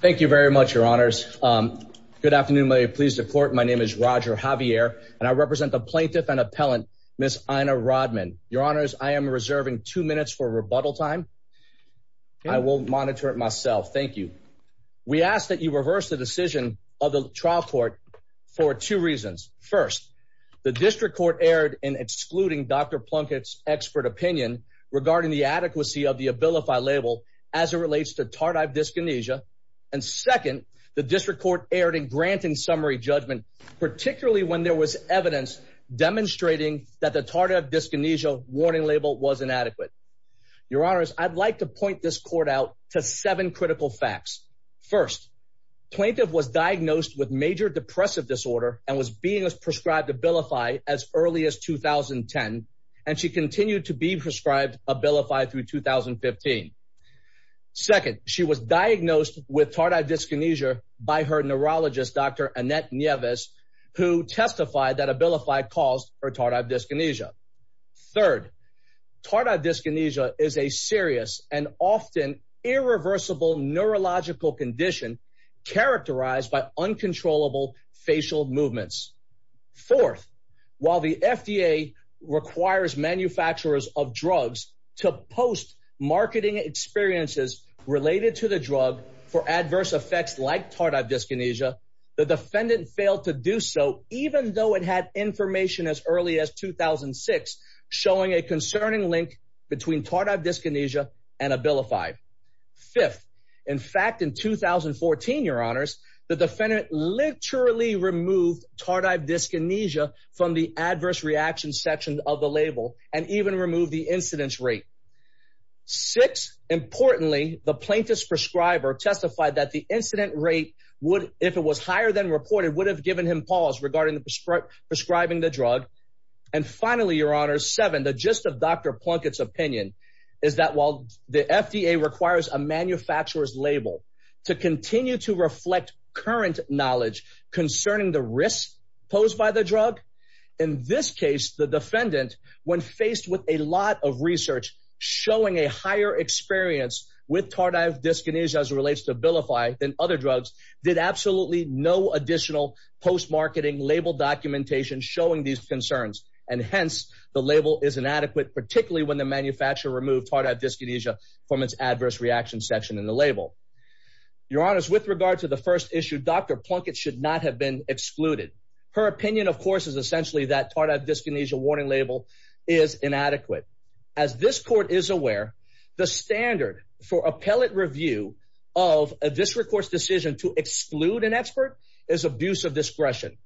Thank you very much, your honors. Good afternoon, my pleas to court. My name is Roger Javier, and I represent the plaintiff and appellant, Miss Ina Rodman. Your honors, I am reserving two minutes for rebuttal time. I will monitor it myself. Thank you. We ask that you reverse the decision of the trial court for two reasons. First, the district court erred in excluding Dr. Plunkett's expert opinion regarding the adequacy of the Abilify label as it relates to Tardive Dyskinesia. And second, the district court erred in granting summary judgment, particularly when there was evidence demonstrating that the Tardive Dyskinesia warning label was inadequate. Your honors, I'd like to point this court out to seven critical facts. First, plaintiff was diagnosed with major depressive disorder and was being prescribed Abilify as early as 2010, and she continued to be prescribed Abilify through 2015. Second, she was diagnosed with Tardive Dyskinesia by her neurologist, Dr. Annette Nieves, who testified that Abilify caused her Tardive Dyskinesia. Third, Tardive Dyskinesia is a serious and often irreversible neurological condition characterized by uncontrollable facial movements. Fourth, while the FDA requires manufacturers of drugs to post marketing experiences related to the drug for adverse effects like Tardive Dyskinesia, the defendant failed to do so even though it had information as early as 2006 showing a concerning link between Tardive Dyskinesia and Abilify. Fifth, in fact, in 2014, your honors, the defendant literally removed Tardive Dyskinesia from the adverse reaction section of the label and even removed the incidence rate. Sixth, importantly, the plaintiff's prescriber testified that the incident rate would, if it was higher than reported, would have given him pause regarding the prescribing the drug. And finally, your honors, seven, the gist of Dr. Plunkett's opinion is that while the FDA requires a manufacturer's label to continue to reflect current knowledge concerning the risks posed by the drug, in this case, the defendant, when faced with a lot of research showing a higher experience with Tardive Dyskinesia as it relates to Abilify than other and hence the label is inadequate, particularly when the manufacturer removed Tardive Dyskinesia from its adverse reaction section in the label. Your honors, with regard to the first issue, Dr. Plunkett should not have been excluded. Her opinion, of course, is essentially that Tardive Dyskinesia warning label is inadequate. As this court is aware, the standard for appellate review of a district court's decision to exclude an expert is abuse of discretion.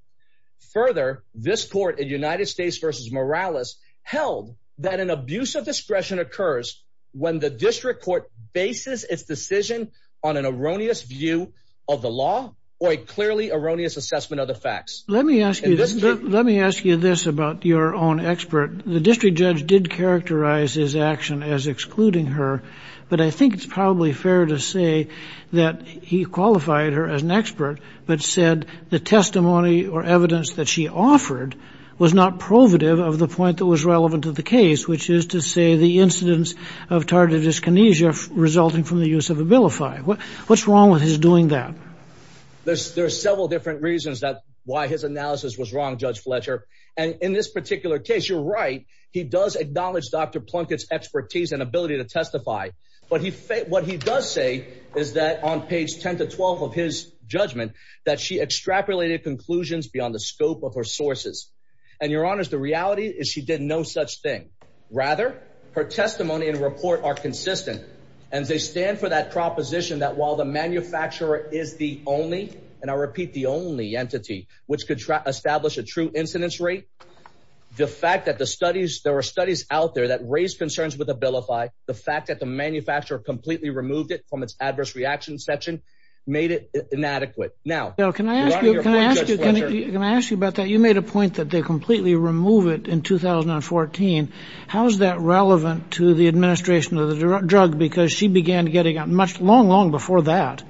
Further, this court in United States v. Morales held that an abuse of discretion occurs when the district court bases its decision on an erroneous view of the law or a clearly erroneous assessment of the facts. Let me ask you, let me ask you this about your own expert. The district judge did characterize his action as excluding her, but I think it's probably fair to say that he qualified her as an expert, but said the testimony or evidence that she offered was not provative of the point that was relevant to the case, which is to say the incidence of Tardive Dyskinesia resulting from the use of Abilify. What's wrong with his doing that? There's several different reasons that why his analysis was wrong, Judge Fletcher, and in this particular case, you're right, he does acknowledge Dr. Plunkett's expertise and ability to testify, but what he does say is that on page 10 to 12 of his judgment, that she extrapolated conclusions beyond the scope of her sources, and your honors, the reality is she did no such thing. Rather, her testimony and report are consistent, and they stand for that proposition that while the manufacturer is the only, and I repeat the only entity which could establish a true incidence rate, the fact that the studies, there were studies out there that raised concerns with Abilify, the fact that the adverse reaction section made it inadequate. Now, can I ask you about that? You made a point that they completely remove it in 2014. How is that relevant to the administration of the drug? Because she began getting out much long, long before that.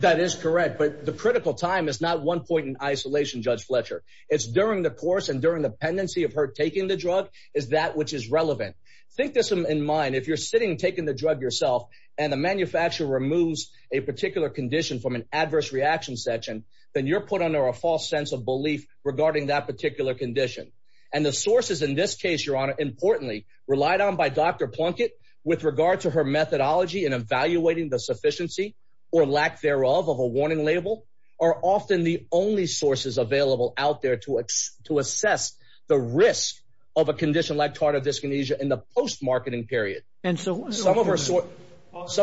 That is correct, but the critical time is not one point in isolation, Judge Fletcher. It's during the course and during the pendency of her taking the drug, is that which is relevant. Think this in mind, if you're sitting taking the drug yourself, and the manufacturer removes a particular condition from an adverse reaction section, then you're put under a false sense of belief regarding that particular condition. And the sources in this case, your honor, importantly, relied on by Dr. Plunkett with regard to her methodology in evaluating the sufficiency or lack thereof of a warning label, are often the only sources available out there to assess the risk of a condition like this. Some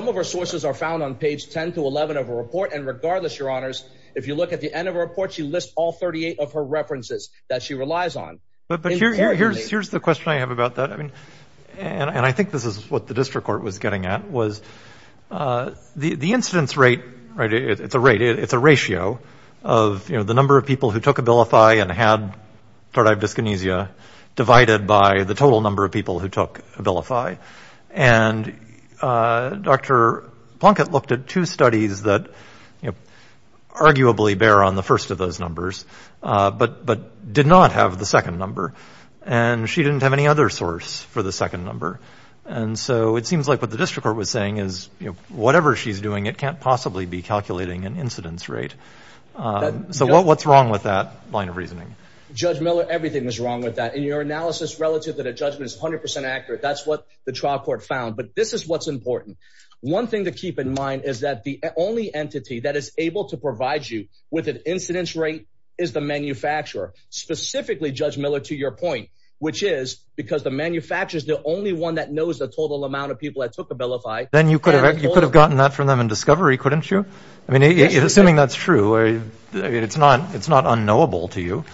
of her sources are found on page 10 to 11 of her report, and regardless, your honors, if you look at the end of her report, she lists all 38 of her references that she relies on. But here's the question I have about that, and I think this is what the district court was getting at, was the incidence rate, it's a ratio of the number of people who took Abilify and had Dr. Plunkett looked at two studies that arguably bear on the first of those numbers, but did not have the second number. And she didn't have any other source for the second number. And so it seems like what the district court was saying is, whatever she's doing, it can't possibly be calculating an incidence rate. So what's wrong with that line of reasoning? Judge Miller, everything was wrong with that. In your analysis, relative to the judgment is 100% that's what the trial court found, but this is what's important. One thing to keep in mind is that the only entity that is able to provide you with an incidence rate is the manufacturer, specifically Judge Miller, to your point, which is because the manufacturer is the only one that knows the total amount of people that took Abilify. Then you could have gotten that from them in discovery, couldn't you? I mean, assuming that's true, it's not unknowable to you.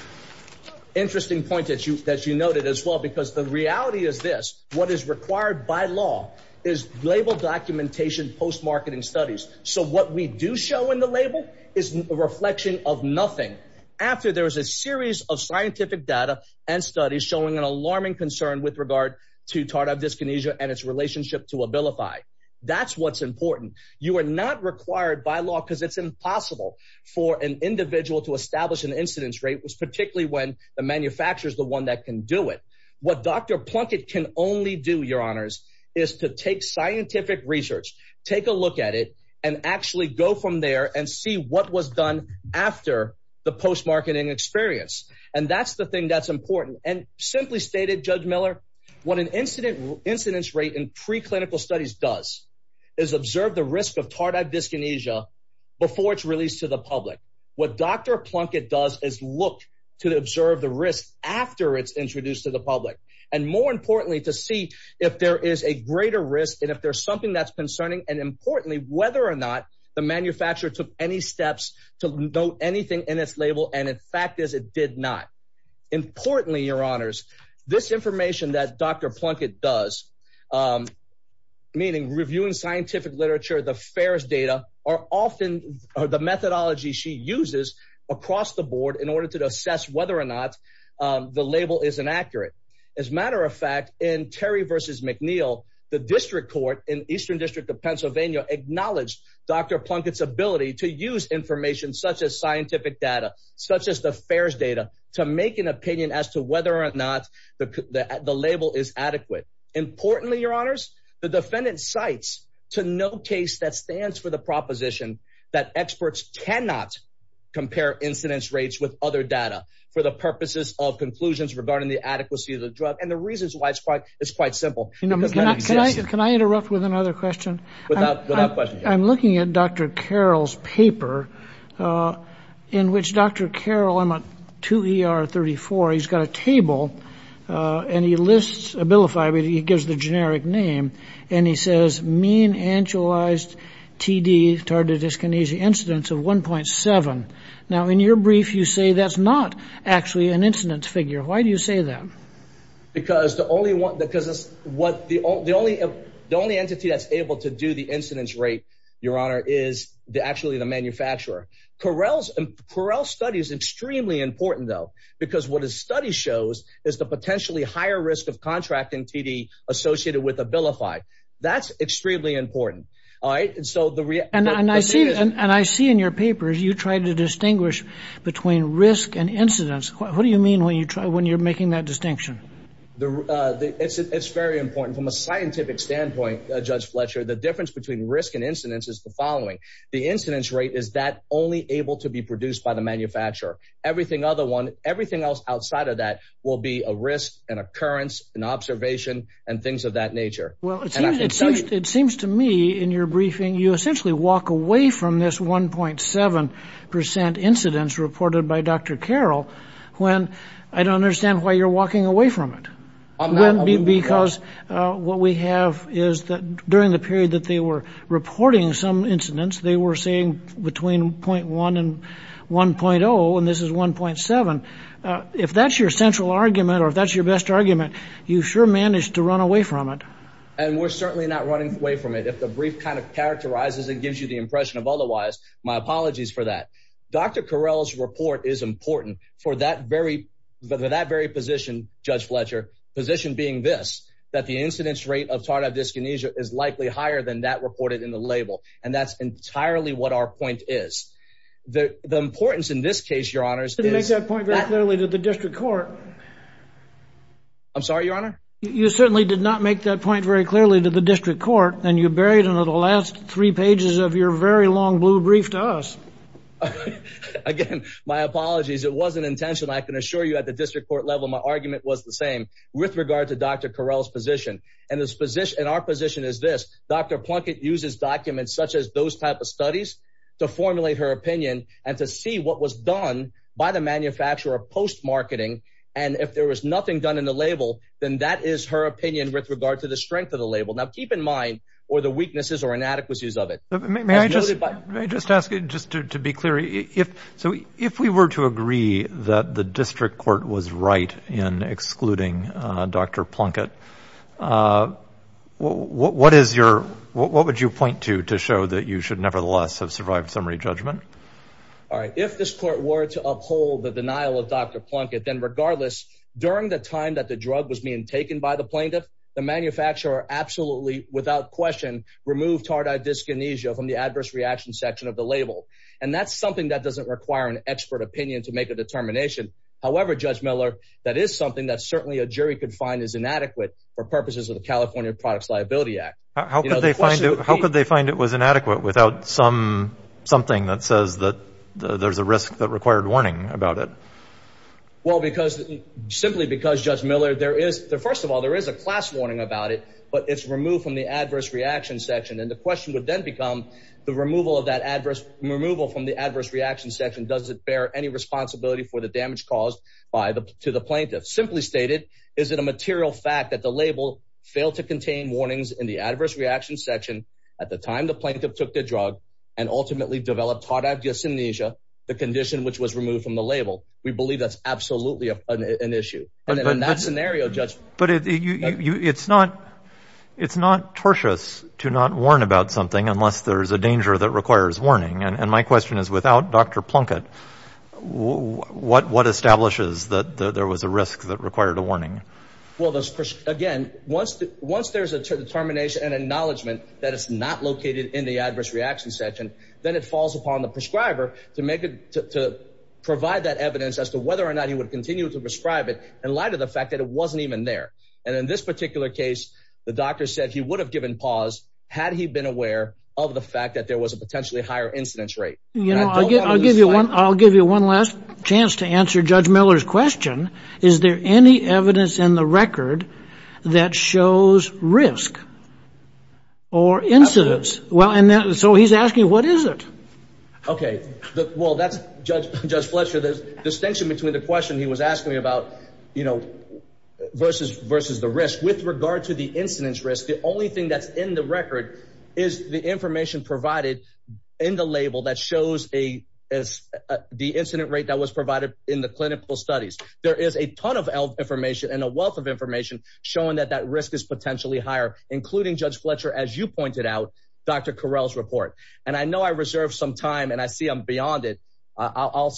Interesting point that you noted as well, because the reality is this, what is required by law is label documentation, post-marketing studies. So what we do show in the label is a reflection of nothing. After there was a series of scientific data and studies showing an alarming concern with regard to tardive dyskinesia and its relationship to Abilify. That's what's important. You are not required by law because it's impossible for an individual to establish an incidence rate, particularly when the manufacturer is the one that can do it. What Dr. Plunkett can only do, your honors, is to take scientific research, take a look at it, and actually go from there and see what was done after the post-marketing experience. That's the thing that's important. Simply stated, Judge Miller, what an incidence rate in preclinical studies does is observe the risk of tardive to observe the risk after it's introduced to the public, and more importantly, to see if there is a greater risk and if there's something that's concerning, and importantly, whether or not the manufacturer took any steps to note anything in its label, and in fact, as it did not. Importantly, your honors, this information that Dr. Plunkett does, meaning reviewing scientific literature, the FAERS data, are often the methodology she uses across the board in order to assess whether or not the label is inaccurate. As a matter of fact, in Terry v. McNeill, the district court in Eastern District of Pennsylvania acknowledged Dr. Plunkett's ability to use information such as scientific data, such as the FAERS data, to make an opinion as to whether or not the label is adequate. Importantly, your honors, the defendant cites to no case that stands for the proposition that experts cannot compare incidence rates with other data for the purposes of conclusions regarding the adequacy of the drug, and the reasons why it's quite simple. Can I interrupt with another question? Without question. I'm looking at Dr. Carroll's paper in which Dr. Carroll, I'm at 2 ER 34, he's got a table, and he lists, he gives the generic name, and he says, mean actualized TD targeted dyskinesia incidence of 1.7. Now, in your brief, you say that's not actually an incidence figure. Why do you say that? Because the only entity that's able to do the incidence rate, your honor, is actually the manufacturer. Carrell's study is extremely important, though, because what his study shows is the potentially higher risk of contracting TD associated with Abilify. That's extremely important, all right? And I see in your papers, you tried to distinguish between risk and incidence. What do you mean when you're making that distinction? The, it's very important from a scientific standpoint, Judge Fletcher. The difference between risk and incidence is the following. The incidence rate is that only able to be produced by the manufacturer. Everything other one, everything else outside of that will be a risk, an occurrence, an observation, and things of that nature. Well, it seems to me in your briefing, you essentially walk away from this 1.7% incidence reported by Dr. Carrell, when I don't understand why you're walking away from it. Because what we have is that during the period that they were reporting some incidents, they were saying between 0.1 and 1.0, and this is 1.7. If that's your central argument, or if that's your best argument, you sure managed to run away from it. And we're certainly not running away from it. If the brief kind of characterizes, it gives you the impression of otherwise, my apologies for that. Dr. Carrell's report is important for that very, for that very position, Judge Fletcher, position being this, that the incidence rate of tardive dyskinesia is likely higher than that reported in the label. And that's entirely what our point is. The importance in this case, your honors- You didn't make that point very clearly to the district court. I'm sorry, your honor? You certainly did not make that point very clearly to the district court, and you buried under the last three pages of your very long blue brief to us. Again, my apologies. It wasn't intentional. I can assure you at the district court level, my argument was the same with regard to Dr. Carrell's position. And this position, and our position is this, Dr. Plunkett uses documents such as those type of studies to formulate her opinion and to see what was done by the manufacturer post-marketing. And if there was nothing done in the label, then that is her opinion with regard to the weaknesses or inadequacies of it. May I just ask, just to be clear, if we were to agree that the district court was right in excluding Dr. Plunkett, what would you point to to show that you should nevertheless have survived summary judgment? All right. If this court were to uphold the denial of Dr. Plunkett, then regardless, during the time that the drug was being taken by the plaintiff, the manufacturer absolutely, without question, removed tardive dyskinesia from the adverse reaction section of the label. And that's something that doesn't require an expert opinion to make a determination. However, Judge Miller, that is something that certainly a jury could find is inadequate for purposes of the California Products Liability Act. How could they find it was inadequate without something that says that there's a risk that required warning about it? Well, simply because, Judge Miller, first of all, there is a class warning about it, but it's removed from the adverse reaction section. And the question would then become the removal from the adverse reaction section. Does it bear any responsibility for the damage caused to the plaintiff? Simply stated, is it a material fact that the label failed to contain warnings in the adverse reaction section at the time the plaintiff took the drug and ultimately developed tardive dyskinesia, the condition which was removed from the label? We believe that's absolutely an issue. And in that scenario, Judge... But it's not tortious to not warn about something unless there's a danger that requires warning. And my question is, without Dr. Plunkett, what establishes that there was a risk that required a warning? Well, again, once there's a determination and acknowledgement that it's not located in the adverse reaction section, then it falls upon the prescriber to provide that evidence as to whether or not he would continue to prescribe it in light of the fact that it wasn't even there. And in this particular case, the doctor said he would have given pause had he been aware of the fact that there was a potentially higher incidence rate. You know, I'll give you one last chance to answer Judge Miller's question. Is there any evidence in the record that shows risk or incidence? Well, and so he's asking, what is it? OK, well, that's Judge Fletcher. There's distinction between the question he was asking me about, you know, versus the risk. With regard to the incidence risk, the only thing that's in the record is the information provided in the label that shows the incident rate that was provided in the clinical studies. There is a ton of information and a wealth of information showing that that risk is potentially higher, including Judge Fletcher, as you pointed out, Dr. Carell's report. And I know I reserve some time and I see I'm beyond it. I'll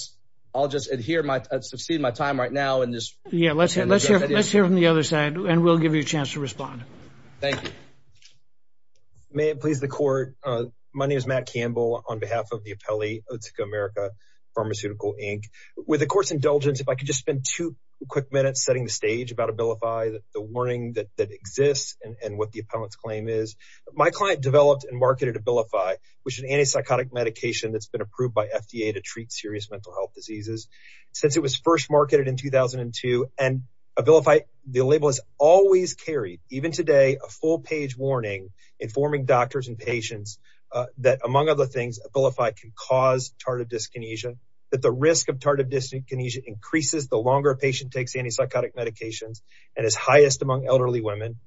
I'll just adhere my succeed my time right now in this. Yeah, let's let's hear from the other side and we'll give you a chance to respond. Thank you. May it please the court. My name is Matt Campbell on behalf of the appellee, Otsuka America Pharmaceutical, Inc. With the court's indulgence, if I could just spend two quick minutes setting the stage about Abilify, the warning that exists and what the appellant's claim is. My client developed and marketed Abilify, which is an antipsychotic medication that's been approved by FDA to treat serious mental health diseases since it was first marketed in 2002. And Abilify, the label is always carried, even today, a full page warning informing doctors and patients that, among other things, Abilify can cause tardive dyskinesia, that the risk of tardive dyskinesia increases the longer a patient takes antipsychotic medications and is highest among elderly women.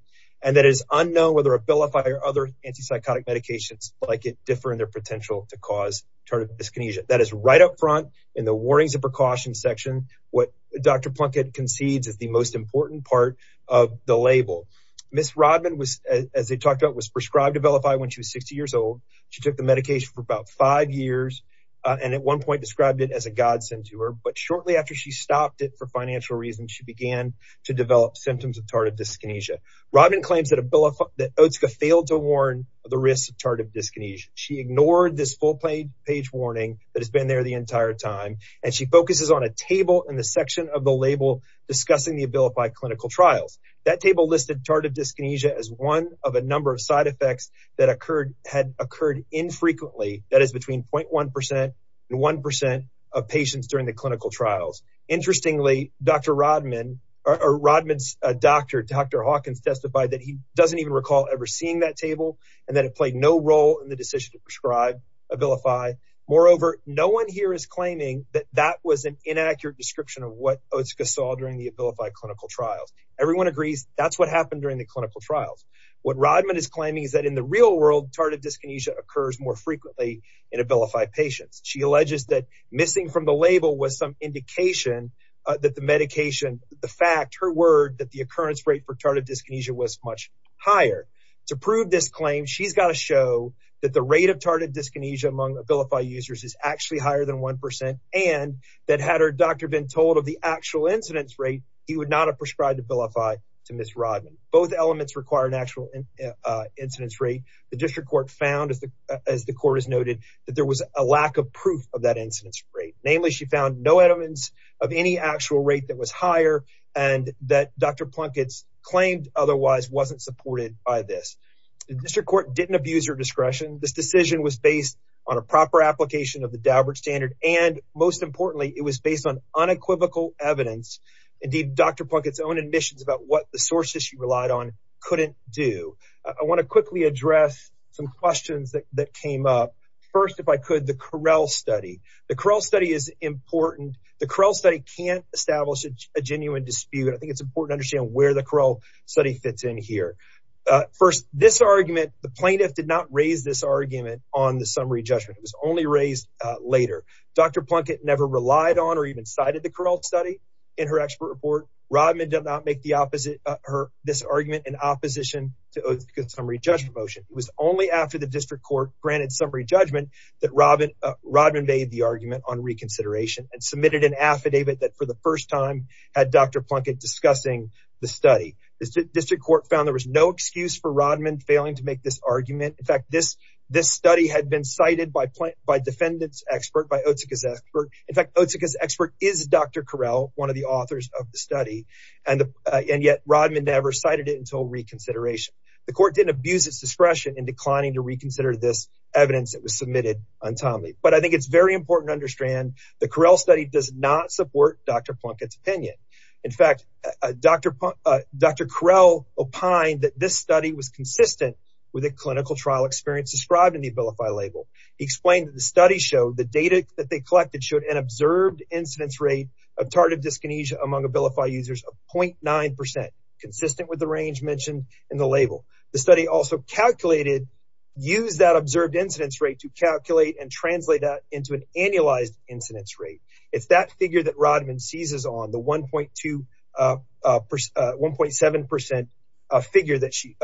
And that is unknown whether Abilify or other antipsychotic medications like it differ in their potential to cause tardive dyskinesia. That is right up front in the warnings and precautions section. What Dr. Plunkett concedes is the most important part of the label. Ms. Rodman was, as they talked about, was prescribed Abilify when she was 60 years old. She took the medication for about five years and at one point described it as a godsend to her. But shortly after she stopped it for financial reasons, she began to develop symptoms of tardive dyskinesia. Rodman claims that Abilify, that OTSCA failed to warn the risk of tardive dyskinesia. She ignored this full page warning that has been there the entire time. And she focuses on a table in the section of the label discussing the Abilify clinical trials. That table listed tardive dyskinesia as one of a number of side effects that occurred, had occurred infrequently. That is between 0.1% and 1% of patients during the clinical trials. Interestingly, Dr. Rodman, or Rodman's doctor, Dr. Hawkins testified that he doesn't even recall ever seeing that table and that it played no role in the decision to prescribe Abilify. Moreover, no one here is claiming that that was an inaccurate description of what OTSCA saw during the Abilify clinical trials. Everyone agrees that's what happened during the clinical trials. What Rodman is claiming is that in the real world, tardive dyskinesia occurs more frequently in Abilify patients. She alleges that missing from the label was some indication that the medication, the fact, her word that the occurrence rate for tardive dyskinesia was much higher. To prove this claim, she's got to show that the rate of tardive dyskinesia among Abilify users is actually higher than 1% and that had her doctor been told of the actual incidence rate, he would not have prescribed Abilify to Ms. Rodman. Both elements require an actual incidence rate. The district court found, as the court has noted, that there was a lack of proof of that incidence rate. Namely, she found no evidence of any actual rate that was higher and that Dr. Plunkett's claimed otherwise wasn't supported by this. The district court didn't abuse her discretion. This decision was based on a proper application of the Daubert standard, and most importantly, it was based on unequivocal evidence. Indeed, Dr. Plunkett's own admissions about what the sources she relied on couldn't do. I want to quickly address some questions that came up. First, if I could, the Correll study. The Correll study is important. The Correll study can't establish a genuine dispute. I think it's important to understand where the Correll study fits in here. First, this argument, the plaintiff did not raise this argument on the summary judgment. It was only raised later. Dr. Plunkett never relied on or even cited the Correll study in her expert report. Rodman did not make this argument in opposition to the summary judgment motion. It was only after the district court granted summary judgment that Rodman made the argument on reconsideration and submitted an affidavit that for the first time had Dr. Plunkett discussing the study. The district court found there was no excuse for Rodman failing to make this argument. In fact, this study had been cited by defendant's expert, by Otsuka's expert. In fact, Otsuka's expert is Dr. Correll, one of the authors of the study, and yet Rodman never cited it until reconsideration. The court didn't abuse its discretion in declining to reconsider this evidence that was submitted untimely. But I think it's very important to understand the Correll study does not support Dr. Plunkett's opinion. In fact, Dr. Correll opined that this study was consistent with a clinical trial experience described in the Abilify label. He explained that the study showed the data that they collected showed an observed incidence rate of tardive dyskinesia among Abilify users of 0.9%, consistent with the range mentioned in the label. The study also calculated, used that observed incidence rate to calculate and translate that into an annualized incidence rate. It's that figure that Rodman seizes on, the 1.7% figure that she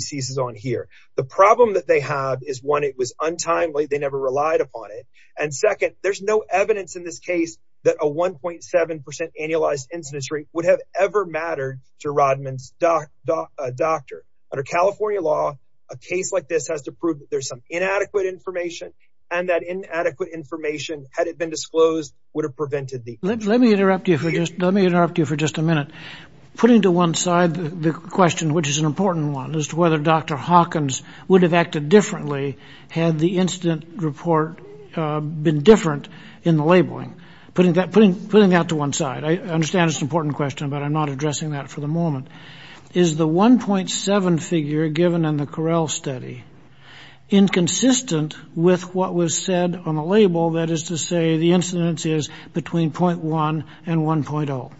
seizes on here. The problem that they have is one, it was untimely. They never relied upon it. And second, there's no evidence in this case that a 1.7% annualized incidence rate would have ever mattered to Rodman's doctor. Under California law, a case like this has to prove that there's some inadequate information and that inadequate information, had it been disclosed, would have prevented the incident. Let me interrupt you for just a minute. Putting to one side the question, which is an important one, as to whether Dr. Hawkins would have acted differently had the incident report been different in the labeling. Putting that to one side, I understand it's an important question, but I'm not addressing that for the moment. Is the 1.7 figure given in the Correll study inconsistent with what was said on the label, that is to say the incidence is between 0.1 and 1.0?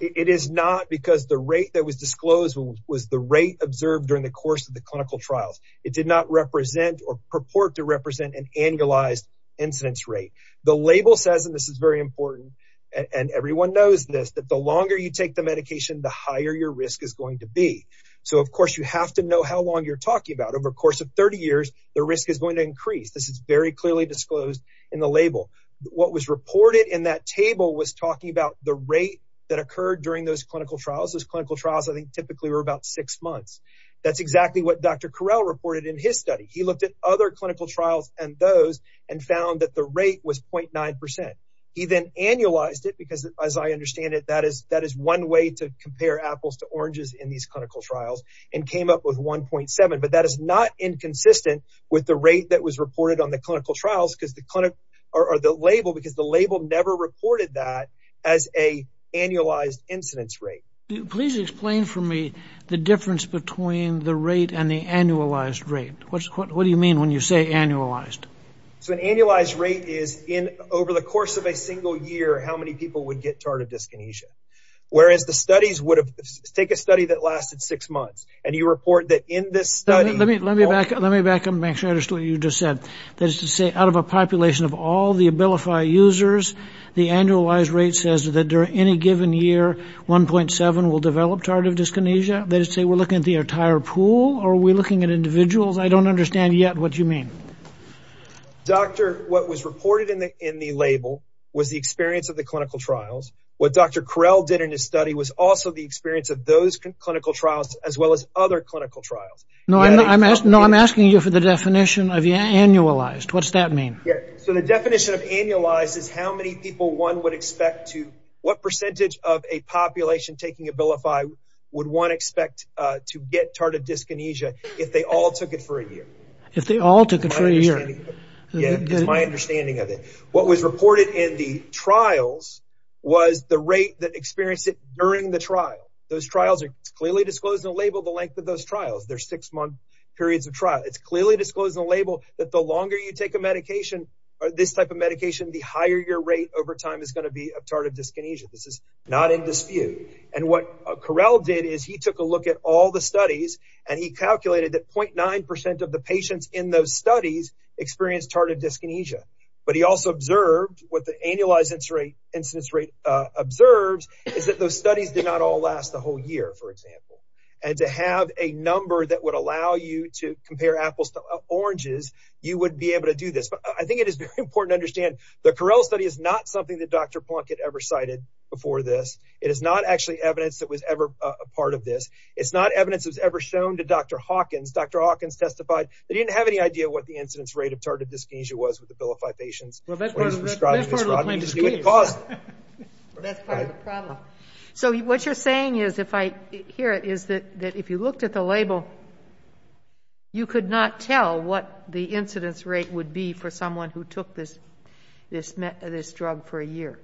It is not because the rate that was disclosed was the rate observed during the course of the clinical trials. It did not represent or purport to represent an annualized incidence rate. The label says, and this is very important, and everyone knows this, that the longer you take the medication, the higher your risk is going to be. Of course, you have to know how long you're talking about. Over the course of 30 years, the risk is going to increase. This is very clearly disclosed in the label. What was reported in that table was talking about the rate that occurred during those clinical trials. Those clinical trials, I think, typically were about six months. That's exactly what Dr. Correll reported in his study. He looked at other clinical trials and those and found that the rate was 0.9%. He then annualized it because, as I understand it, that is one way to compare apples to oranges in these clinical trials and came up with 1.7. But that is not inconsistent with the rate that was reported on the clinical trials or the label because the label never reported that as an annualized incidence rate. Please explain for me the difference between the rate and the annualized rate. What do you mean when you say annualized? So, an annualized rate is over the course of a single year, how many people would get tardive dyskinesia, whereas the studies would have… Take a study that lasted six months and you report that in this study… Let me back up and make sure I understood what you just said. That is to say, out of a population of all the Abilify users, the annualized rate says that during any given year, 1.7 will develop tardive dyskinesia. That is to say, we're looking at the entire pool or are we looking at individuals? I don't understand yet what you mean. Doctor, what was reported in the label was the experience of the clinical trials. What Dr. Carell did in his study was also the experience of those clinical trials as well as other clinical trials. No, I'm asking you for the definition of annualized. What's that mean? Yes. So, the definition of annualized is how many people one would expect to… What percentage of a population taking Abilify would one expect to get tardive dyskinesia If they all took it for a year. Yeah, that's my understanding of it. What was reported in the trials was the rate that experienced it during the trial. Those trials are clearly disclosed in the label the length of those trials. They're six-month periods of trial. It's clearly disclosed in the label that the longer you take a medication or this type of medication, the higher your rate over time is going to be of tardive dyskinesia. This is not in dispute. And what Carell did is he took a look at all the studies and he calculated that 0.9% of the patients in those studies experienced tardive dyskinesia. But he also observed what the annualized incidence rate observes is that those studies did not all last the whole year, for example. And to have a number that would allow you to compare apples to oranges, you would be able to do this. But I think it is very important to understand the Carell study is not something that Dr. Plunkett ever cited before this. It is not actually evidence that was ever a part of this. It's not evidence that was ever shown to Dr. Hawkins. Dr. Hawkins testified that he didn't have any idea what the incidence rate of tardive dyskinesia was with the Bill of Fibations. Well, that's part of the problem. So what you're saying is, if I hear it, is that if you looked at the label, you could not tell what the incidence rate would be for someone who took this drug for a year.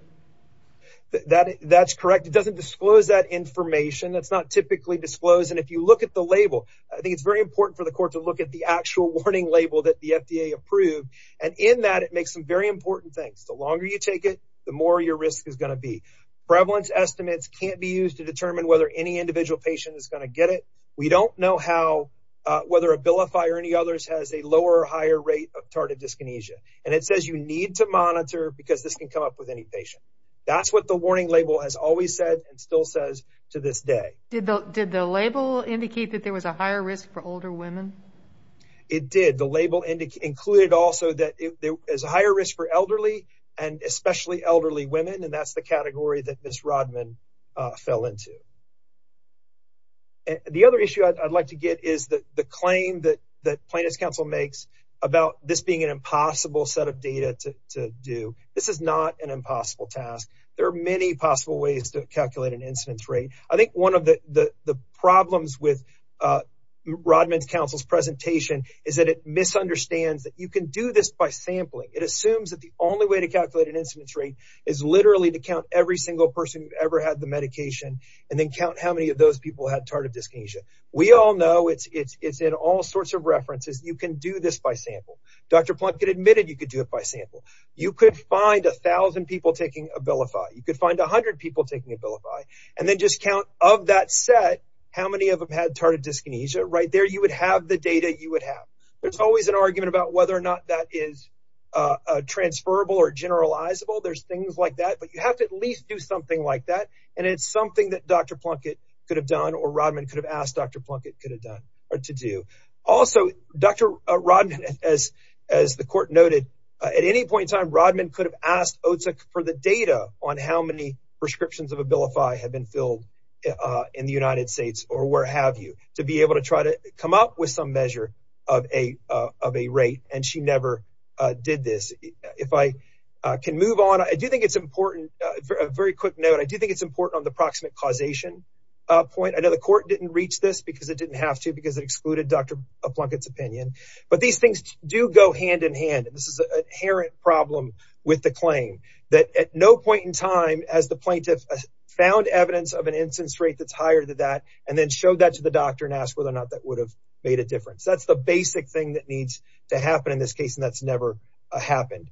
That's correct. It doesn't disclose that information. That's not typically disclosed. And if you look at the label, I think it's very important for the court to look at the actual warning label that the FDA approved. And in that, it makes some very important things. The longer you take it, the more your risk is going to be. Prevalence estimates can't be used to determine whether any individual patient is going to get it. We don't know whether Abilify or any others has a lower or higher rate of tardive dyskinesia. And it says you need to monitor because this can come up with any patient. That's what the warning label has always said and still says to this day. Did the label indicate that there was a higher risk for older women? It did. The label included also that there is a higher risk for elderly and especially elderly women. And that's the category that Ms. Rodman fell into. The other issue I'd like to get is the claim that plaintiff's counsel makes about this being an impossible set of data to do. This is not an impossible task. There are many possible ways to calculate an incidence rate. I think one of the problems with Rodman's counsel's presentation is that it misunderstands that you can do this by sampling. It assumes that the only way to calculate an incidence rate is literally to count every single person who ever had the medication and then count how many of those people had tardive dyskinesia. We all know it's in all sorts of references. You can do this by sample. Dr. Plunkett admitted you could do it by sample. You could find 1,000 people taking Abilify. You could find 100 people taking Abilify. And then just count of that set, how many of them had tardive dyskinesia. Right there, you would have the data you would have. There's always an argument about whether or not that is transferable or generalizable. There's things like that. But you have to at least do something like that. And it's something that Dr. Plunkett could have done or Rodman could have asked Dr. Plunkett could have done or to do. Also, Dr. Rodman, as the court noted, at any point in time, Rodman could have asked OTC for the data on how many prescriptions of Abilify have been filled in the United States or where have you to be able to try to come up with some measure of a rate. And she never did this. If I can move on, I do think it's important. Very quick note. I do think it's important on the proximate causation point. I know the court didn't reach this because it didn't have to because it excluded Dr. Plunkett's opinion. But these things do go hand in hand. This is an inherent problem with the claim that at no point in time, as the plaintiff found evidence of an instance rate that's higher than that and then showed that to the doctor and asked whether or not that would have made a difference. That's the basic thing that needs to happen in this case. And that's never happened.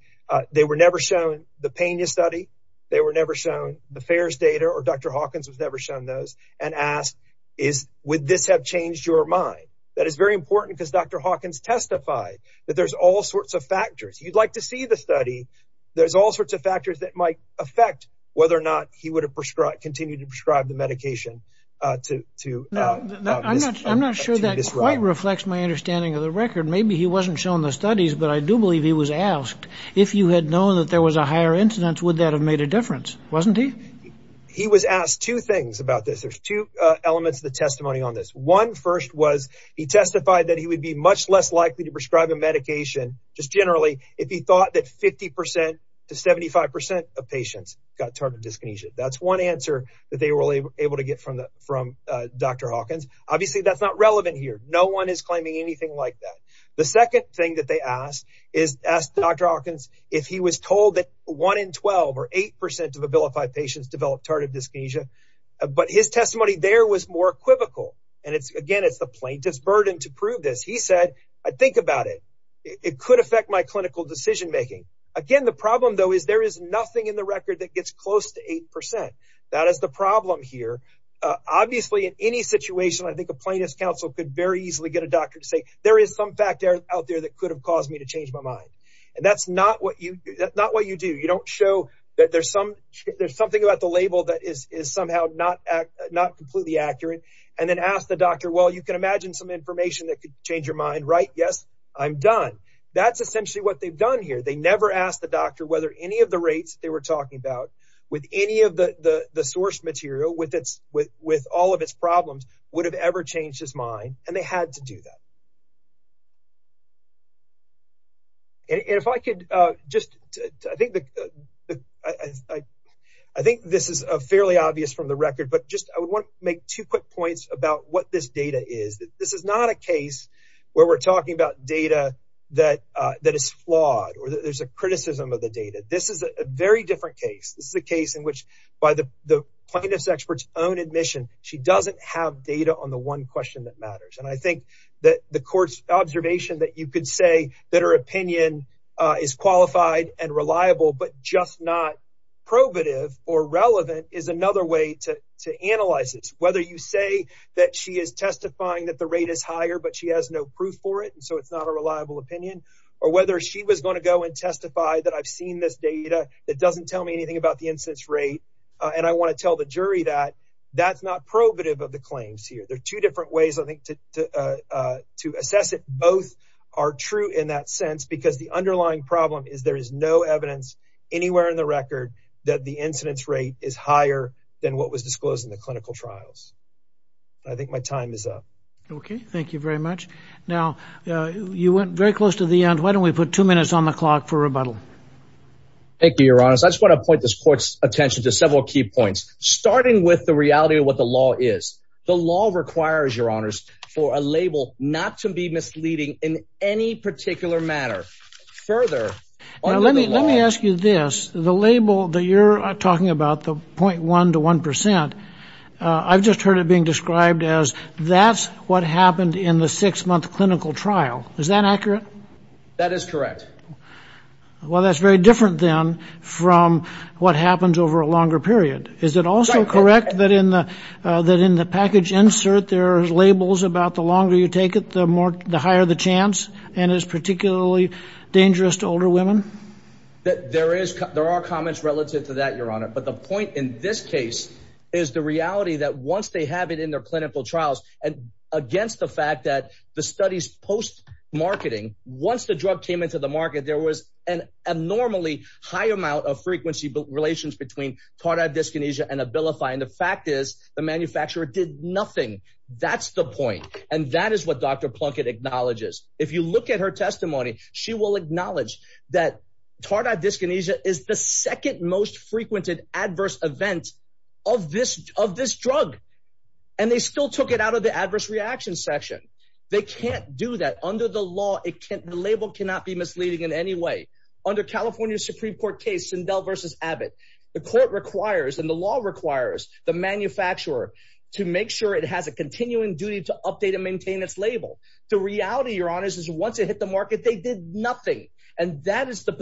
They were never shown the Pena study. They were never shown the FAERS data or Dr. Hawkins was never shown those and asked, would this have changed your mind? That is very important because Dr. Hawkins testified that there's all sorts of factors. You'd like to see the study. There's all sorts of factors that might affect whether or not he would have continued to prescribe the medication. I'm not sure that quite reflects my understanding of the record. Maybe he wasn't shown the studies, but I do believe he was asked if you had known that there was a higher incidence, would that have made a difference? Wasn't he? He was asked two things about this. There's two elements of the testimony on this. One first was he testified that he would be much less likely to prescribe a medication just generally if he thought that 50% to 75% of patients got tardive dyskinesia. That's one answer that they were able to get from Dr. Hawkins. Obviously, that's not relevant here. No one is claiming anything like that. The second thing that they asked is asked Dr. Hawkins if he was told that one in 12 or 8% of Abilify patients developed tardive dyskinesia. But his testimony there was more equivocal. And again, it's the plaintiff's burden to prove this. He said, I think about it. It could affect my clinical decision making. Again, the problem, though, is there is nothing in the record that gets close to 8%. That is the problem here. Obviously, in any situation, I think a plaintiff's counsel could very easily get a doctor to say there is some factor out there that could have caused me to change my mind. And that's not what you do. You don't show that there's something about the label that is somehow not completely accurate and then ask the doctor, well, you can imagine some information that could change your mind, right? Yes, I'm done. That's essentially what they've done here. They never asked the doctor whether any of the rates they were talking about with any of the source material with all of its problems would have ever changed his mind. And they had to do that. And if I could just, I think this is fairly obvious from the record, but just I would want to make two quick points about what this data is. This is not a case where we're talking about data that is flawed or there's a criticism of the data. This is a very different case. This is a case in which by the plaintiff's expert's own admission, she doesn't have data on the one question that matters. And I think that the court's observation that you could say that her opinion is qualified and reliable, but just not probative or relevant is another way to analyze this. Whether you say that she is testifying that the rate is higher, but she has no proof for it. And so it's not a reliable opinion or whether she was going to go and testify that I've seen this data that doesn't tell me anything about the instance rate. And I want to tell the jury that that's not probative of the claims here. There are two different ways, I think, to assess it. Both are true in that sense, because the underlying problem is there is no evidence anywhere in the record that the incidence rate is higher than what was disclosed in the clinical trials. I think my time is up. Okay. Thank you very much. Now, you went very close to the end. Why don't we put two minutes on the clock for rebuttal? Thank you, Your Honor. I just want to point this court's attention to several key points, starting with the reality of what the law is. The law requires, Your Honors, for a label not to be misleading in any particular manner. Further, let me ask you this. The label that you're talking about, the 0.1 to 1%, I've just heard it being described as that's what happened in the six month clinical trial. Is that accurate? That is correct. Well, that's very different than from what happens over a longer period. Is it also correct that in the package insert, there are labels about the longer you take it, the higher the chance, and is particularly dangerous to older women? There are comments relative to that, Your Honor, but the point in this case is the reality that once they have it in their clinical trials, and against the fact that the studies post-marketing, once the drug came into the market, there was an abnormally high amount of frequency relations between Tardive Dyskinesia and Abilify, and the fact is the manufacturer did nothing. That's the point, and that is what Dr. Plunkett acknowledges. If you look at her testimony, she will acknowledge that Tardive Dyskinesia is the second most frequented adverse event of this drug, and they still took it out of the adverse reaction section. They can't do that. Under the law, the label cannot be misleading in any way. Under California Supreme Court case Sindel v. Abbott, the court requires and the law requires the manufacturer to make sure it has a continuing duty to update and maintain its label. The reality, Your Honor, is once it hit the market, they did nothing, and that is the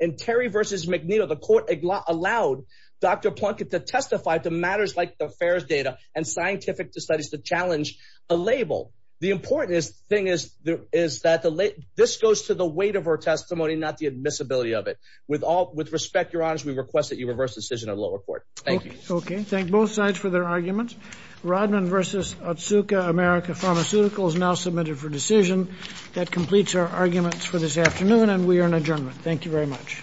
In Terry v. McNeil, the court allowed Dr. Plunkett to testify to matters like the FAERS data and scientific studies to challenge a label. The important thing is that this goes to the weight of her testimony, not the admissibility of it. With respect, Your Honor, we request that you reverse the decision of the lower court. Thank you. Okay. Thank both sides for their arguments. Rodman v. Otsuka America Pharmaceuticals now submitted for decision. That completes our arguments for this afternoon, and we are in adjournment. Thank you very much.